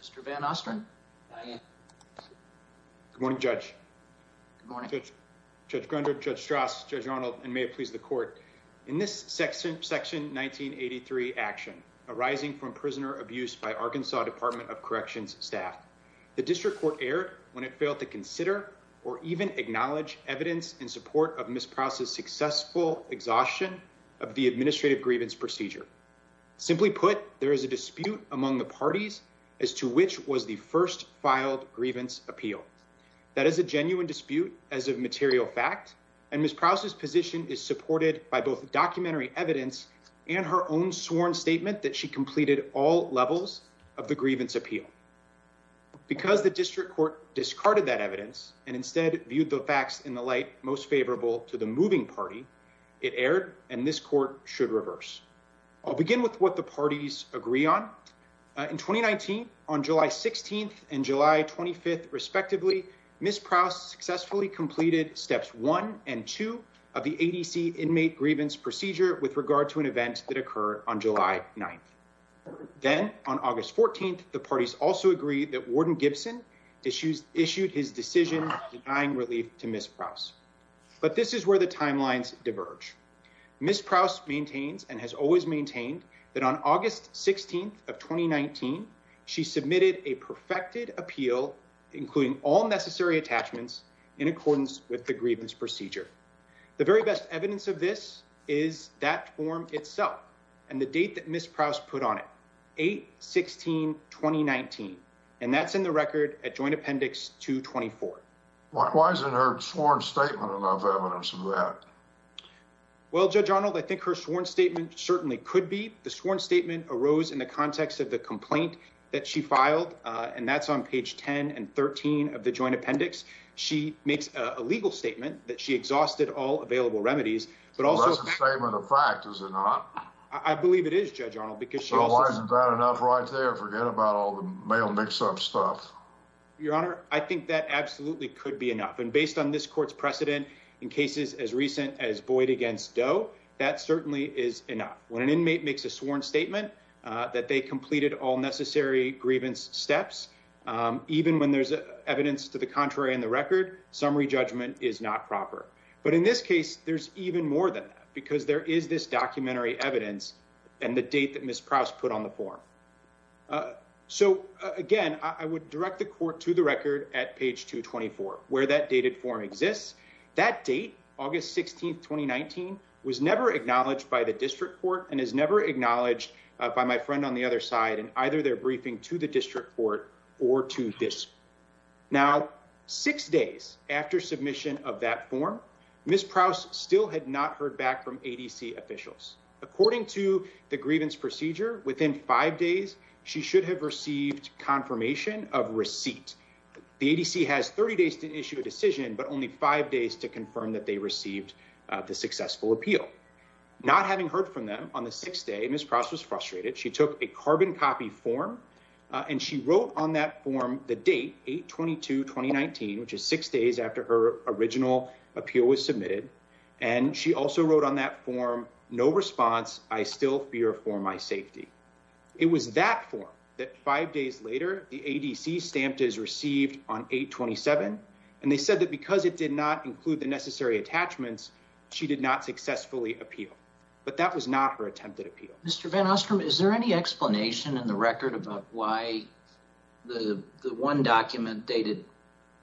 Mr. Van Ostrin. Good morning Judge. Good morning. Judge Grunder, Judge Strauss, Judge Arnold, and may it please the court. In this section section 1983 action arising from prisoner abuse by Arkansas Department of Corrections staff, the district court erred when it failed to consider or even acknowledge evidence in support of Ms. Prowse's successful exhaustion of the administrative grievance procedure. Simply put, there is a dispute among the parties as to which was the first filed grievance appeal. That is a genuine dispute as of material fact and Ms. Prowse's position is supported by both documentary evidence and her own sworn statement that she completed all levels of the grievance appeal. Because the district court discarded that evidence and instead viewed the facts in the most favorable to the moving party, it erred and this court should reverse. I'll begin with what the parties agree on. In 2019, on July 16th and July 25th respectively, Ms. Prowse successfully completed steps 1 and 2 of the ADC inmate grievance procedure with regard to an event that occurred on July 9th. Then, on August 14th, the parties also agreed that Warden Gibson issues issued his decision denying relief to Ms. Prowse. But this is where the timelines diverge. Ms. Prowse maintains and has always maintained that on August 16th of 2019, she submitted a perfected appeal including all necessary attachments in accordance with the grievance procedure. The very best evidence of this is that form itself and the date that Ms. Prowse put on it. 8-16-2019 and that's in the Why isn't her sworn statement enough evidence of that? Well, Judge Arnold, I think her sworn statement certainly could be. The sworn statement arose in the context of the complaint that she filed and that's on page 10 and 13 of the Joint Appendix. She makes a legal statement that she exhausted all available remedies, but also... That's a statement of fact, is it not? I believe it is, Judge Arnold, because she also... So why isn't that enough right there? Forget about all the male mix-up stuff. Your Honor, I think that absolutely could be enough and based on this court's precedent in cases as recent as Boyd against Doe, that certainly is enough. When an inmate makes a sworn statement that they completed all necessary grievance steps, even when there's evidence to the contrary in the record, summary judgment is not proper. But in this case, there's even more than that because there is this documentary evidence and the date that Ms. Prowse put on the form. So again, I would direct the court to the record at page 224, where that dated form exists. That date, August 16th, 2019, was never acknowledged by the District Court and is never acknowledged by my friend on the other side in either their briefing to the District Court or to this. Now, six days after submission of that form, Ms. Prowse still had not heard back from ADC officials. According to the grievance procedure, within five days, she should have received confirmation of receipt. The ADC has 30 days to issue a decision, but only five days to confirm that they received the successful appeal. Not having heard from them on the sixth day, Ms. Prowse was frustrated. She took a carbon copy form and she wrote on that form the date, 8-22-2019, which is six days later. She also wrote on that form, no response. I still fear for my safety. It was that form that five days later, the ADC stamped as received on 8-27, and they said that because it did not include the necessary attachments, she did not successfully appeal. But that was not her attempted appeal. Mr. Van Ostrom, is there any explanation in the record about why the one document dated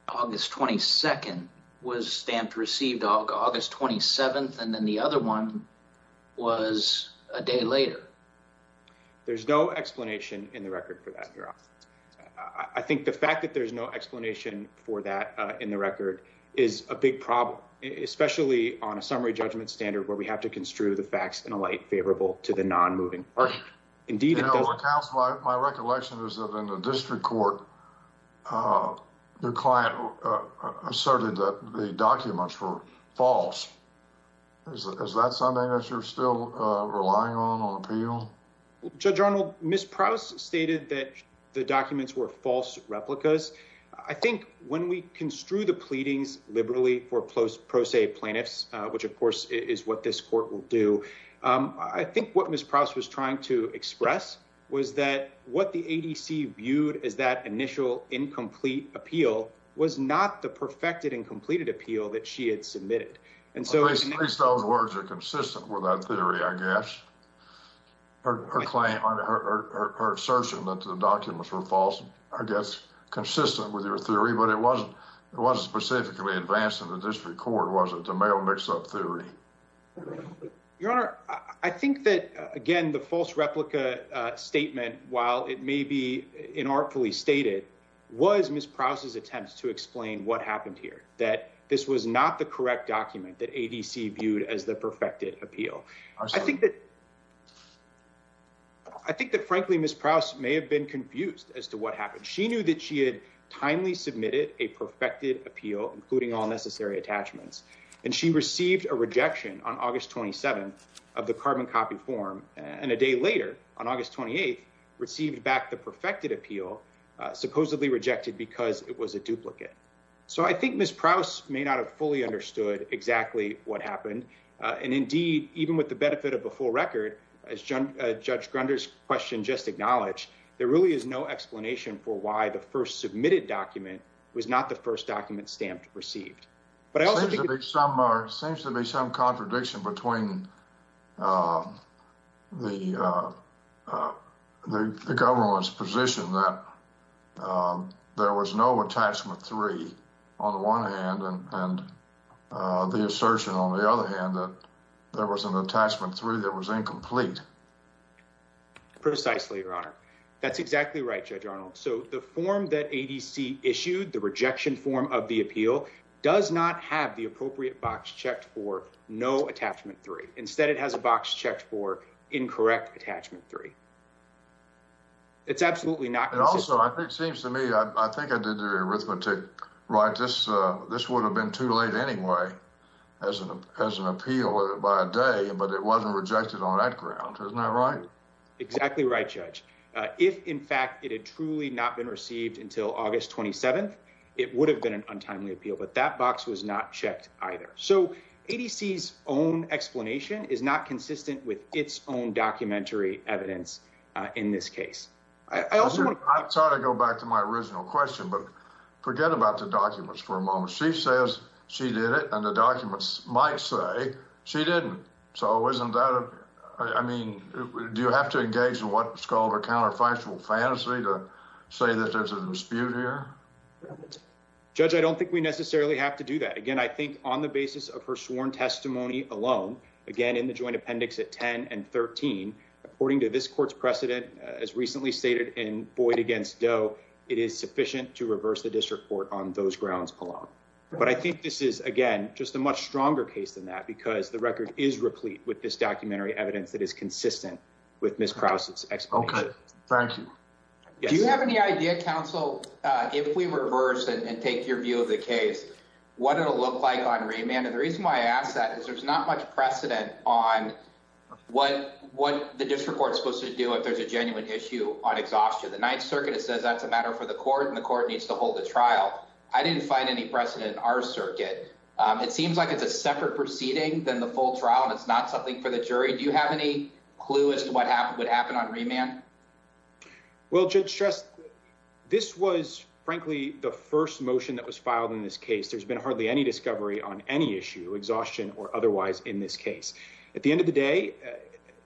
August 22nd was stamped received August 27th, and then the other one was a day later? There's no explanation in the record for that, Your Honor. I think the fact that there's no explanation for that in the record is a big problem, especially on a summary judgment standard where we have to construe the facts in a light favorable to the non-moving party. Your Honor, my recollection is that in the district court, the client asserted that the documents were false. Is that something that you're still relying on, on appeal? Judge Arnold, Ms. Prowse stated that the documents were false replicas. I think when we construe the pleadings liberally for pro se plaintiffs, which of course is what this court will do, I think what Ms. Prowse was trying to express was that what the ADC viewed as that initial incomplete appeal was not the perfected and completed appeal that she had submitted. At least those words are consistent with that theory, I guess. Her assertion that the documents were false, I guess, consistent with your theory, but it wasn't specifically advanced in the district court, was it, the male mix-up theory? Your Honor, I think that, again, the false replica statement, while it may be inartfully stated, was Ms. Prowse's attempt to explain what happened here, that this was not the correct document that ADC viewed as the perfected appeal. I think that, frankly, Ms. Prowse may have been confused as to what happened. She knew that she had timely submitted a perfected appeal, including all necessary attachments, and she received a rejection on August 27th of the carbon copy form, and a day later, on August 28th, received back the perfected appeal, supposedly rejected because it was a duplicate. I think Ms. Prowse may not have fully understood exactly what happened, and indeed, even with the benefit of a full record, as Judge Grunder's question just acknowledged, there really is no explanation for why the first submitted document was not the first document stamped received. There seems to be some contradiction between the government's position that there was no attachment three, on the one hand, and the assertion, on the other hand, that there was an attachment three that was incomplete. Precisely, Your Honor. That's exactly right, Judge Arnold. The form that ADC issued, the rejection form of the appeal, does not have the appropriate box checked for no attachment three. Instead, it has a box checked for incorrect attachment three. It's absolutely not consistent. Also, it seems to me, I think I did the arithmetic right. This would have been too late anyway, as an appeal, by a day, but it wasn't rejected on that ground. Isn't that right? Exactly right, Judge. If, in fact, it had truly not been received until August 27th, it would have been an untimely appeal, but that box was not checked either. So, ADC's own explanation is not consistent with its own documentary evidence in this case. I'm sorry to go back to my original question, but forget about the documents for a moment. She says she did it, and the documents might say she didn't. Do you have to engage in what's called a counterfactual fantasy to say that there's a dispute here? Judge, I don't think we necessarily have to do that. Again, I think on the basis of her sworn testimony alone, again, in the joint appendix at 10 and 13, according to this court's precedent, as recently stated in Boyd v. Doe, it is sufficient to reverse the district court on those grounds alone. But I think this is, again, just a much stronger case than that, because the record is replete with this documentary evidence that is consistent with Ms. Krause's explanation. Okay, thank you. Do you have any idea, counsel, if we reverse and take your view of the case, what it'll look like on remand? And the reason why I ask that is there's not much precedent on what the district court's supposed to do if there's a genuine issue on exhaustion. The Ninth Circuit says that's a matter for the court, and the court needs to hold a trial. I didn't find any precedent in our circuit. It seems like it's a separate proceeding than the full trial, and it's not something for the jury. Do you have any clue as to what would happen on remand? Well, Judge Stress, this was, frankly, the first motion that was filed in this case. There's been hardly any discovery on any issue, exhaustion or otherwise, in this case. At the end of the day,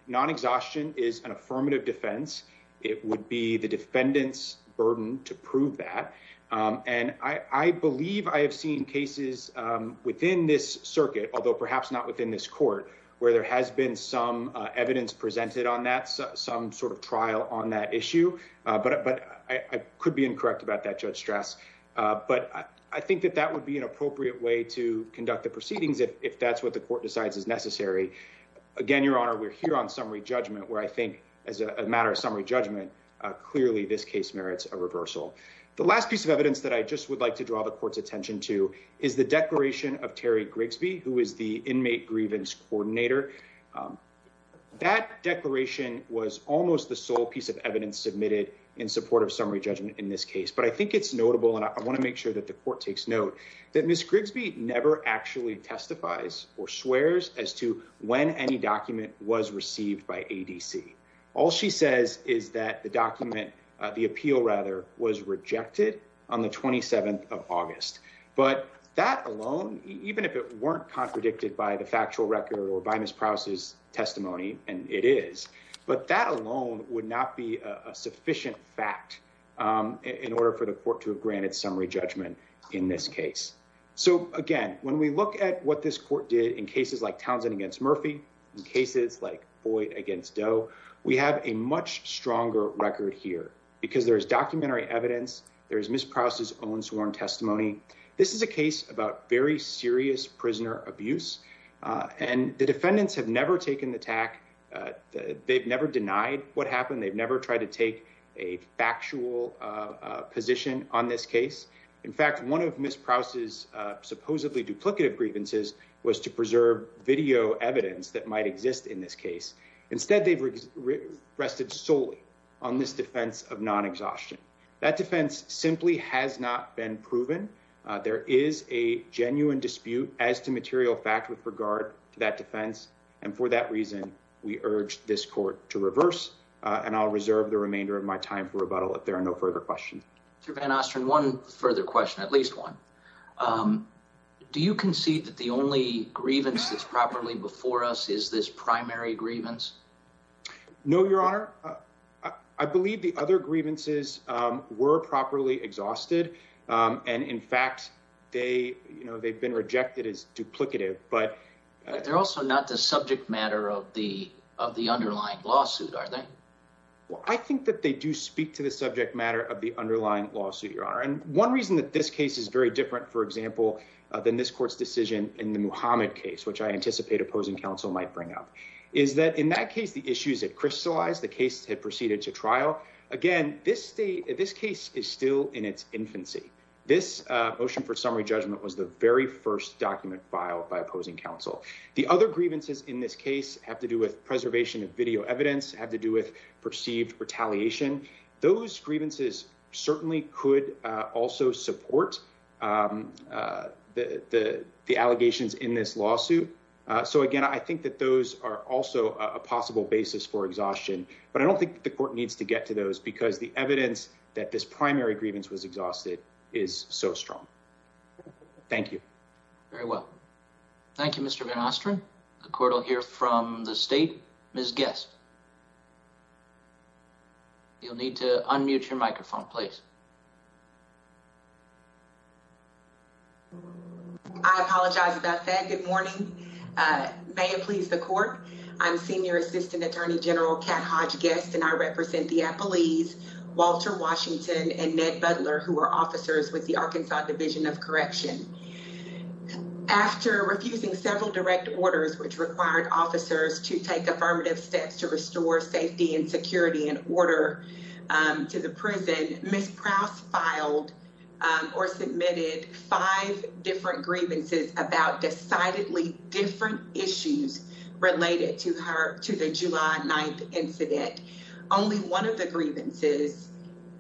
non-exhaustion is an affirmative defense. It would be the defendant's burden to prove that. And I believe I have seen cases within this circuit, although perhaps not within this court, where there has been some evidence presented on that, some sort of trial on that issue. But I could be incorrect about that, Judge Stress. But I think that that would be an appropriate way to conduct the proceedings, if that's what the court decides is necessary. Again, Your Honor, we're here on summary judgment, where I think as a matter of summary judgment, clearly this case merits a reversal. The last piece of evidence that I just would like to draw the court's attention to is the declaration of Terry Grigsby, who is the inmate grievance coordinator. That declaration was almost the sole piece of evidence submitted in support of summary judgment in this case. But I think it's notable, and I want to make sure that the court takes note, that Ms. Grigsby never actually testifies or swears as to when any document was received by ADC. All she says is that the document, the appeal rather, was rejected on the 27th of August. But that alone, even if it weren't contradicted by the factual record or by Ms. Prowse's testimony, and it is, but that alone would not be a sufficient fact in order for the court to have granted summary judgment in this case. So again, when we look at what this court did in cases like Townsend against Murphy, in cases like Boyd against Doe, we have a much stronger record here, because there's documentary evidence, there's Ms. Prowse's own sworn testimony. This is a case about very serious prisoner abuse, and the defendants have never taken the tack. They've never denied what happened. They've never tried to take a factual position on this case. In fact, one of Ms. Prowse's supposedly duplicative grievances was to preserve video evidence that might exist in this case. Instead, they've rested solely on this defense of non-exhaustion. That defense simply has not been proven. There is a genuine dispute as to material fact with regard to that defense, and for that reason, we urge this court to reverse, and I'll reserve the remainder of my time for rebuttal if there are no further questions. Mr. Van Ostrand, one further question, at least one. Do you concede that the only grievance that's properly before us is this primary grievance? No, Your Honor. I believe the other grievances were properly exhausted, and in fact, they've been rejected as duplicative. They're also not the subject matter of the underlying lawsuit, are they? Well, I think that they do speak to the subject matter of the underlying lawsuit, Your Honor. One reason that this case is very different, for example, than this court's decision in the Muhammad case, which I anticipate opposing counsel might bring up, is that in that case, the issues had crystallized. The case had proceeded to trial. Again, this case is still in its infancy. This motion for summary judgment was the very first document filed by opposing counsel. The other grievances in this case have to do with preservation of video evidence, have to do with perceived retaliation. Those grievances certainly could also support the allegations in this lawsuit. So again, I think that those are also a possible basis for exhaustion, but I don't think the court needs to get to those because the evidence that this primary grievance was exhausted is so strong. Thank you. Very well. Thank you, Mr. Van Ostrand. The court will hear from the State. Ms. Guest. You'll need to unmute your microphone, please. I apologize about that. Good morning. May it please the court. I'm Senior Assistant Attorney General Kat Hodge Guest, and I represent the Appalese, Walter Washington, and Ned Butler, who are officers with the Arkansas Division of Correction. After refusing several direct orders, which required officers to take affirmative steps to restore safety and security and order to the prison, Ms. Prouse filed or submitted five different grievances about decidedly different issues related to the July 9th incident. Only one of the grievances,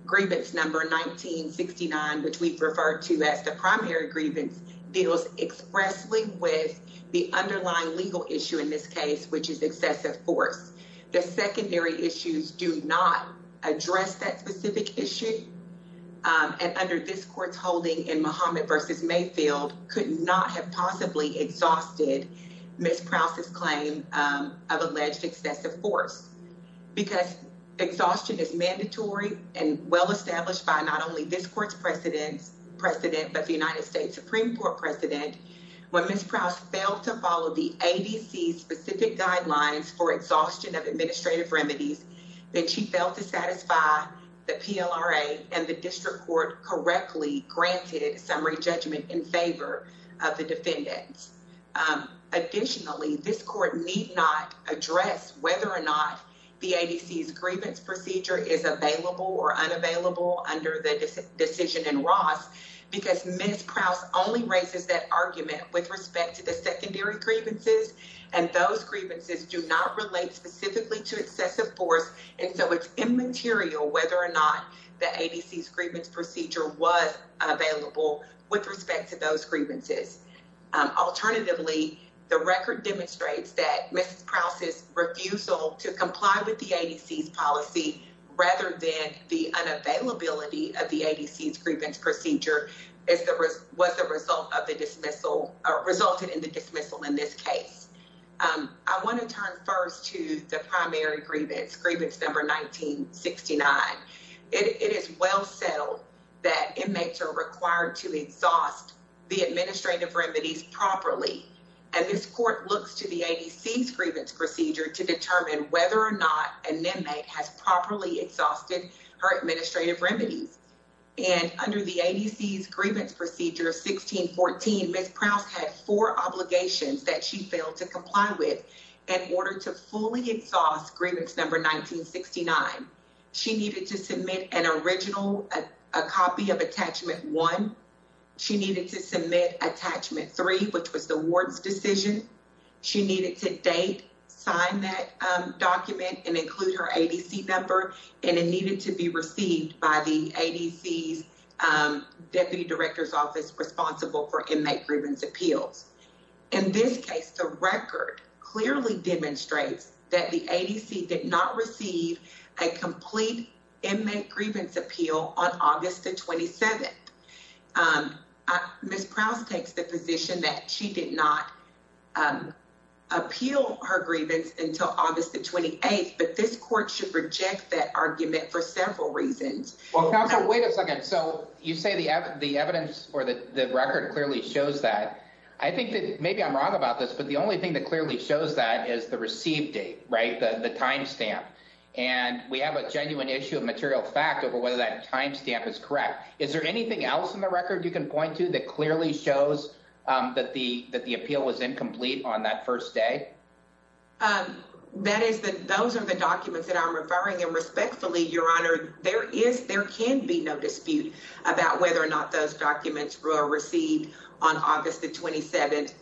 grievance number 1969, which we've referred to as the primary grievance, deals expressly with the underlying legal issue in this case, which is excessive force. The secondary issues do not address that specific issue, and under this court's holding in Muhammad v. Mayfield could not have possibly exhausted Ms. Prouse's claim of alleged excessive force because exhaustion is mandatory and well-established by not only this court's precedent, but the United States Supreme Court precedent. When Ms. Prouse failed to follow the ADC's specific guidelines for exhaustion of administrative remedies, then she failed to satisfy the PLRA and the district court correctly granted summary judgment in favor of the defendants. Additionally, this court need not address whether or not the ADC's grievance procedure is available or unavailable under the decision in Ross, because Ms. Prouse only raises that argument with respect to the secondary grievances, and those grievances do not relate specifically to excessive force, and so it's immaterial whether or not the ADC's grievance procedure was available with respect to those grievances. Alternatively, the record demonstrates that Ms. Prouse's refusal to comply with the ADC's policy rather than the unavailability of the ADC's grievance procedure was the result of the dismissal or resulted in the dismissal in this case. I want to turn first to the primary grievance, grievance number 1969. It is well settled that inmates are required to exhaust the administrative remedies properly, and this exhausted her administrative remedies, and under the ADC's grievance procedure of 1614, Ms. Prouse had four obligations that she failed to comply with in order to fully exhaust grievance number 1969. She needed to submit an original copy of attachment one. She needed to submit attachment three, which was the ward's decision. She needed to date sign that document and include her ADC number, and it needed to be received by the ADC's deputy director's office responsible for inmate grievance appeals. In this case, the record clearly demonstrates that the ADC did not receive a complete inmate grievance appeal on August the 27th. Ms. Prouse takes the position that she did not appeal her grievance until August the 28th, but this court should reject that argument for several reasons. Well, counsel, wait a second. So you say the evidence or the record clearly shows that. I think that maybe I'm wrong about this, but the only thing that clearly shows that is the received date, right, the timestamp, and we have a genuine issue of material fact over whether that timestamp is correct. Is there anything else in the record you can point to that clearly shows that the appeal was incomplete on that first day? That is that those are the documents that I'm referring, and respectfully, Your Honor, there is, there can be no dispute about whether or not those documents were received on August the 27th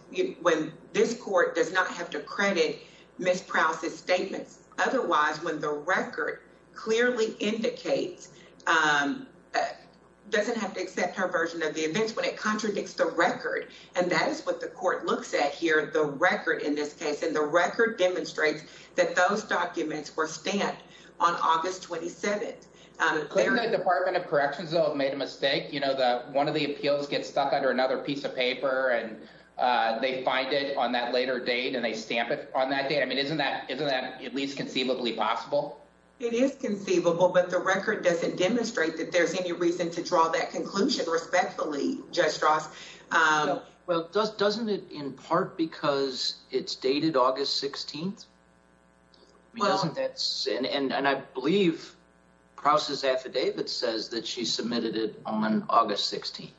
when this court does not have to credit Ms. Prouse's statements. Otherwise, when the record clearly indicates, doesn't have to accept her version of the events, when it contradicts the record, and that is what the court looks at here, the record in this case, and the record demonstrates that those documents were stamped on August 27th. The Department of Corrections, though, made a mistake. You know, one of the appeals gets stuck under another piece of paper, and they find it on that later date, and they stamp it on that date. I mean, isn't that at least conceivably possible? It is conceivable, but the record doesn't demonstrate that there's any reason to draw that conclusion, respectfully, Judge Strauss. Well, doesn't it, in part, because it's dated August 16th? And I believe Prouse's affidavit says that she submitted it on August 16th.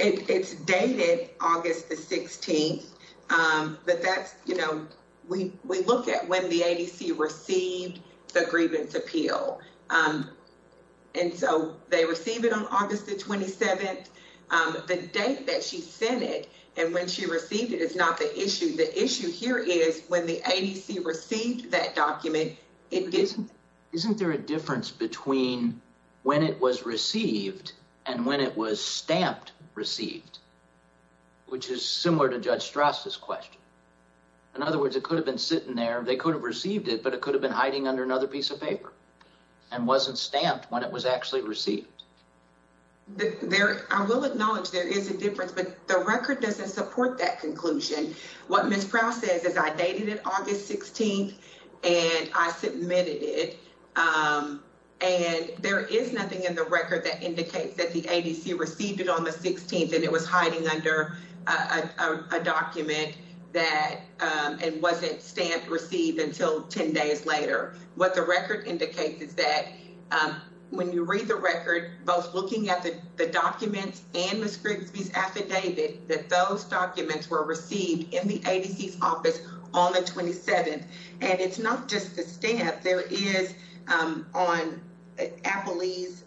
It's dated August the 16th, but that's, you know, we look at when the ADC received the grievance appeal, and so they received it on August the 27th. The date that she sent it and when she received it is not the issue. The issue here is when the ADC received that document, it didn't. Isn't there a difference between when it was received and when it was stamped received, which is similar to Judge Strauss's question? In other words, it could have been sitting there, they could have received it, but it could have been hiding under another piece of paper and wasn't stamped when it was actually received. I will acknowledge there is a difference, but the record doesn't support that conclusion. What Ms. Prouse says is, I dated it August 16th and I submitted it, and there is nothing in the record that indicates that the ADC received it on the 16th and it was hiding under a document and wasn't stamped received until 10 days later. What the record indicates is that when you read the record, both looking at the documents and Ms. Grigsby's affidavit, that those documents were received in the ADC's office on the 27th. And it's not just the stamp, there is on Appley's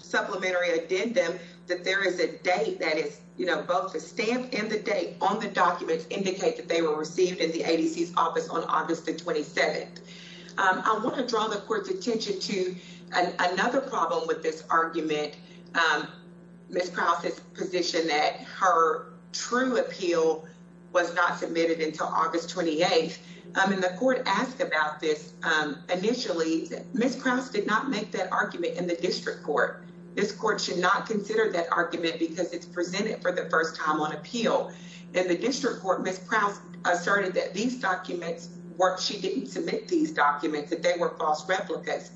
supplementary addendum that there is a date that is, you know, both the stamp and the date on the documents indicate that they were received in the ADC's office on August the 27th. I want to draw the court's attention to another problem with this her true appeal was not submitted until August 28th. And the court asked about this initially, Ms. Prouse did not make that argument in the district court. This court should not consider that argument because it's presented for the first time on appeal. In the district court, Ms. Prouse asserted that these documents were, she didn't submit these documents, that they were false replicas.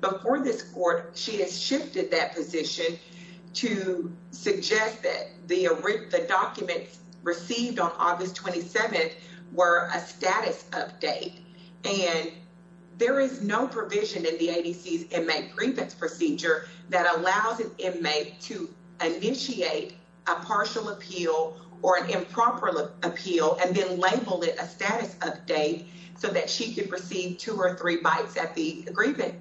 Before this court, she has shifted that position to suggest that the documents received on August 27th were a status update. And there is no provision in the ADC's inmate grievance procedure that allows an inmate to initiate a partial appeal or an improper appeal, and then label it a status update so that she could receive two or three bites at the agreement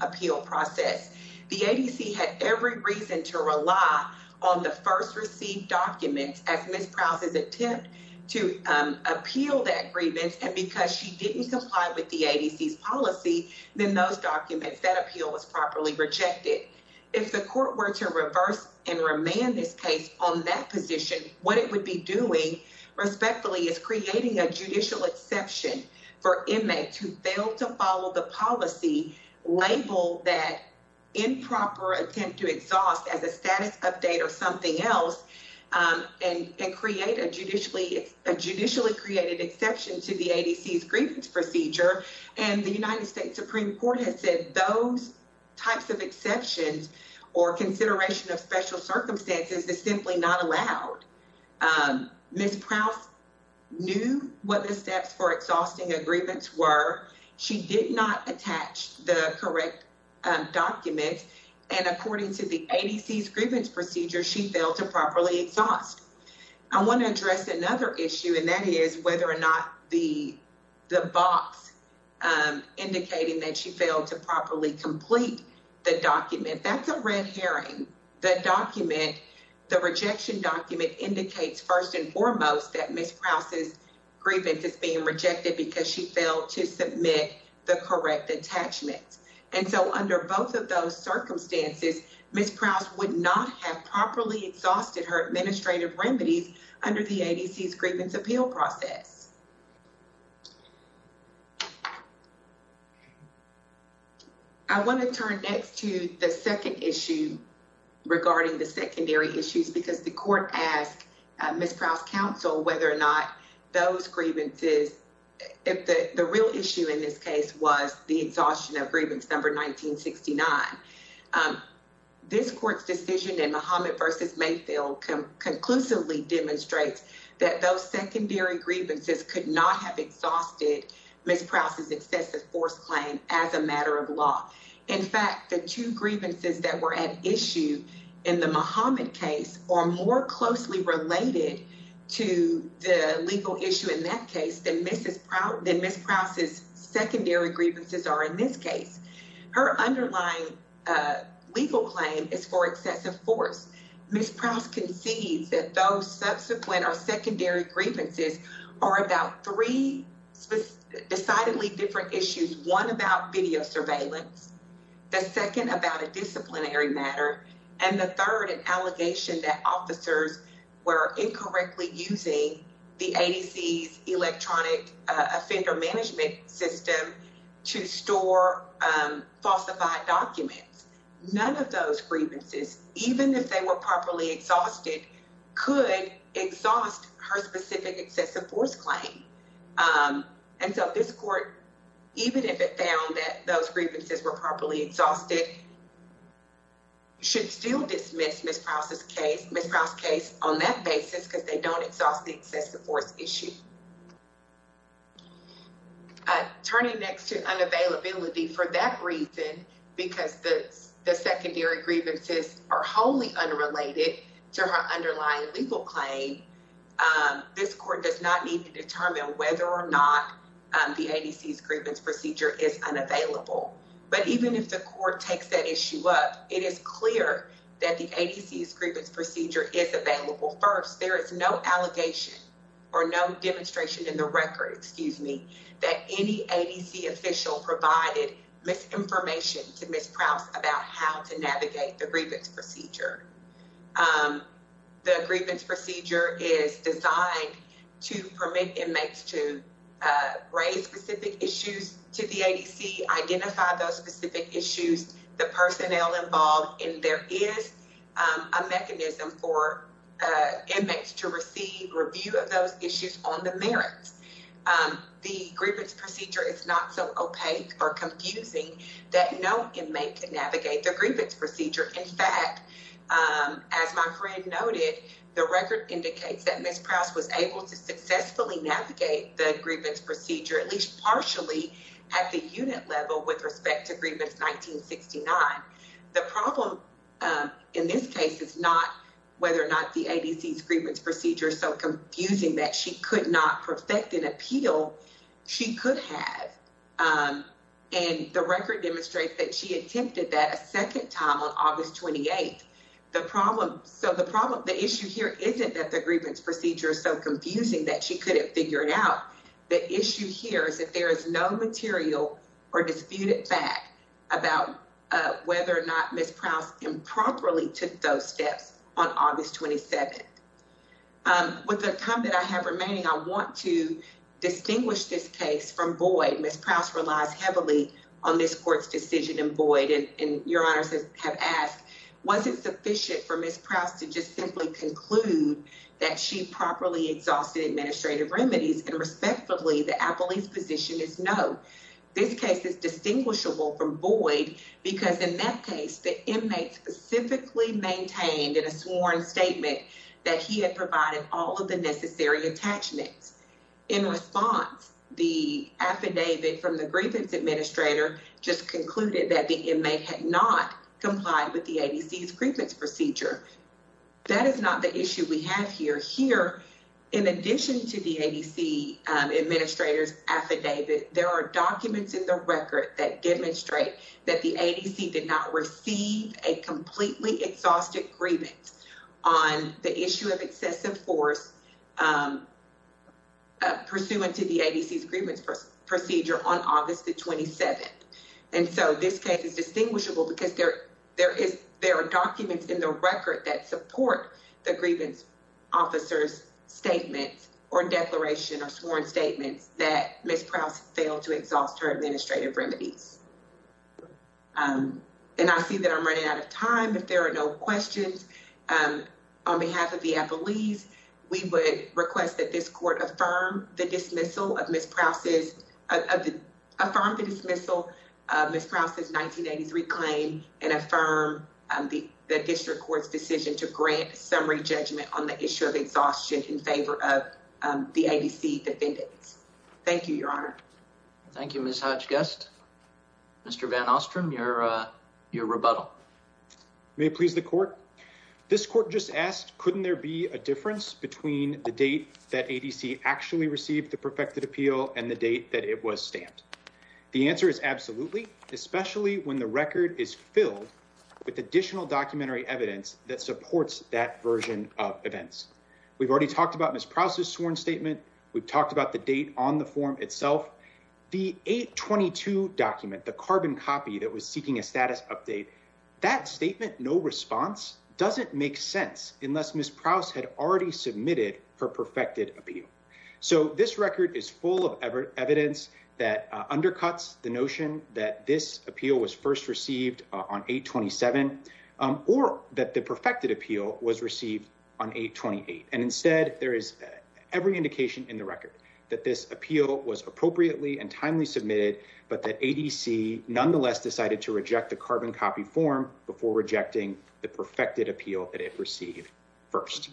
appeal process. The ADC had every reason to rely on the first received documents as Ms. Prouse's attempt to appeal that grievance. And because she didn't comply with the ADC's policy, then those documents that appeal was properly rejected. If the court were to reverse and remand this case on that position, what it would be doing respectfully is creating a judicial exception for inmates who fail to follow the policy, label that improper attempt to exhaust as a status update or something else, and create a judicially, a judicially created exception to the ADC's grievance procedure. And the United States Supreme Court has said those types of exceptions or consideration of special circumstances is simply not allowed. Ms. Prouse knew what the steps for exhausting a grievance were. She did not attach the correct documents. And according to the ADC's grievance procedure, she failed to properly exhaust. I want to address another issue and that is whether or not the box indicating that she failed to properly complete the document. That's a red herring. The document, the rejection document indicates first and foremost that Ms. Prouse's grievance is being rejected because she failed to submit the correct attachments. And so under both of those circumstances, Ms. Prouse would not have properly exhausted her administrative remedies under the ADC's grievance appeal process. I want to turn next to the second issue regarding the secondary issues because the court asked Ms. Prouse's counsel whether or not those grievances, if the real issue in this case was the exhaustion of grievance number 1969. This court's decision in Muhammad v. Mayfield conclusively demonstrates that those secondary grievances could not have exhausted Ms. Prouse's excessive force claim as a matter of law. In fact, the two grievances that were at issue in the Muhammad case are more closely related to the legal issue in that case than Ms. Prouse's secondary grievances are in this case. Her underlying legal claim is for excessive force. Ms. Prouse concedes that those subsequent or secondary grievances are about three decidedly different issues. One about video surveillance, the second about a disciplinary matter, and the third an allegation that officers were incorrectly using the ADC's electronic offender management system to store falsified documents. None of those grievances, even if they were properly exhausted, could exhaust her specific excessive force claim. And so this court, even if it found that those grievances were properly exhausted, should still dismiss Ms. Prouse's case on that basis because they don't exhaust the excessive force issue. Turning next to unavailability, for that reason, because the secondary grievances are wholly unrelated to her underlying legal claim, this court does not need to determine whether or not the ADC's grievance procedure is unavailable. But even if the court takes that issue up, it is clear that the ADC's grievance procedure is available. First, there is no allegation or no demonstration in the record, excuse me, that any ADC official provided misinformation to Ms. Prouse about how to navigate the grievance procedure. The grievance procedure is designed to permit inmates to raise specific issues to the ADC, identify those specific issues, the personnel involved, and there is a mechanism for inmates to receive review of those issues on the merits. The grievance procedure is not so opaque or confusing that no inmate can navigate the grievance procedure. In fact, as my friend noted, the record indicates that Ms. Prouse was able to successfully navigate the grievance procedure, at least partially, at the unit level with respect to grievance 1969. The problem, in this case, is not whether or not the ADC's grievance procedure is so confusing that she could not perfect an appeal she could have. And the record demonstrates that she attempted that a second time on August 28th. So the issue here isn't that the grievance procedure is so confusing that she couldn't figure it out. The issue here is that there is no material or disputed fact about whether or not Ms. Prouse improperly took those steps on August 27th. With the time that I have remaining, I want to distinguish this case from Boyd. Ms. Prouse relies heavily on this court's decision in Boyd, and your honors have asked, was it sufficient for Ms. Prouse to just and respectfully, the appellee's position is no. This case is distinguishable from Boyd because in that case, the inmate specifically maintained in a sworn statement that he had provided all of the necessary attachments. In response, the affidavit from the grievance administrator just concluded that the inmate had not complied with the ADC's grievance procedure. That is not the issue we have here. Here, in addition to the ADC administrator's affidavit, there are documents in the record that demonstrate that the ADC did not receive a completely exhaustive grievance on the issue of excessive force pursuant to the ADC's grievance procedure on August the 27th. And so this case is distinguishable because there are documents in the record that support the grievance officer's statement or declaration or sworn statements that Ms. Prouse failed to exhaust her administrative remedies. And I see that I'm running out of time. If there are no questions on behalf of the appellees, we would request that this court affirm the dismissal of Ms. Prouse's 1983 claim and affirm the district court's decision to grant summary judgment on the issue of exhaustion in favor of the ADC defendants. Thank you, Your Honor. Thank you, Ms. Hodge-Guest. Mr. Van Ostrom, your rebuttal. May it please the court? This court just asked, couldn't there be a difference between the date that ADC actually received the perfected appeal and the date that it was stamped? The answer is absolutely, especially when the record is filled with additional documentary evidence that supports that version of events. We've already talked about Ms. Prouse's sworn statement. We've talked about the date on the form itself. The 822 document, the carbon copy that was seeking a status update, that statement, no response doesn't make sense unless Ms. Prouse had already submitted her perfected appeal. So this record is full of evidence that undercuts the notion that this appeal was first received on 8-27 or that the perfected appeal was received on 8-28. And instead there is every indication in the record that this appeal was appropriately and timely submitted, but that ADC nonetheless decided to reject the carbon copy form before rejecting the perfected appeal that it received first.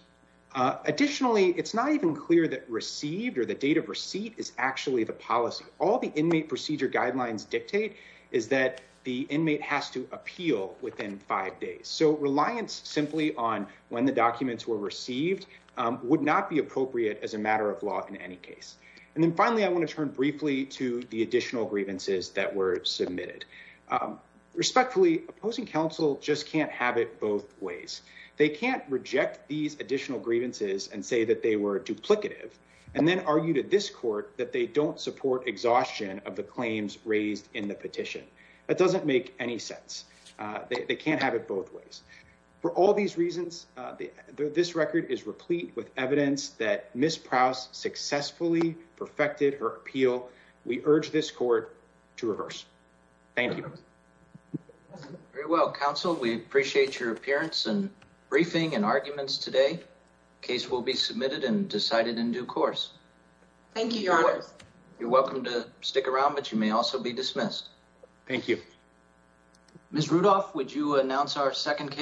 Additionally, it's not even clear that received or the date of receipt is actually the policy. All the inmate procedure guidelines dictate is that the inmate has to appeal within five days. So reliance simply on when the documents were received would not be appropriate as a matter of law in any case. And then finally, I want to turn briefly to the additional grievances that were submitted. Respectfully, opposing counsel just can't have it both ways. They can't reject these additional grievances and say that they were duplicative and then argue to this court that they don't support exhaustion of the claims raised in the petition. That doesn't make any sense. They can't have it both ways. For all these reasons, this record is replete with evidence that Ms. Prouse successfully perfected her appeal. We urge this court to reverse. Thank you. Very well, counsel. We appreciate your appearance and briefing and arguments today. Case will be submitted and decided in due course. Thank you, Your Honor. You're welcome to stick around, but you may also be dismissed. Thank you. Ms. Rudolph, would you announce our second case?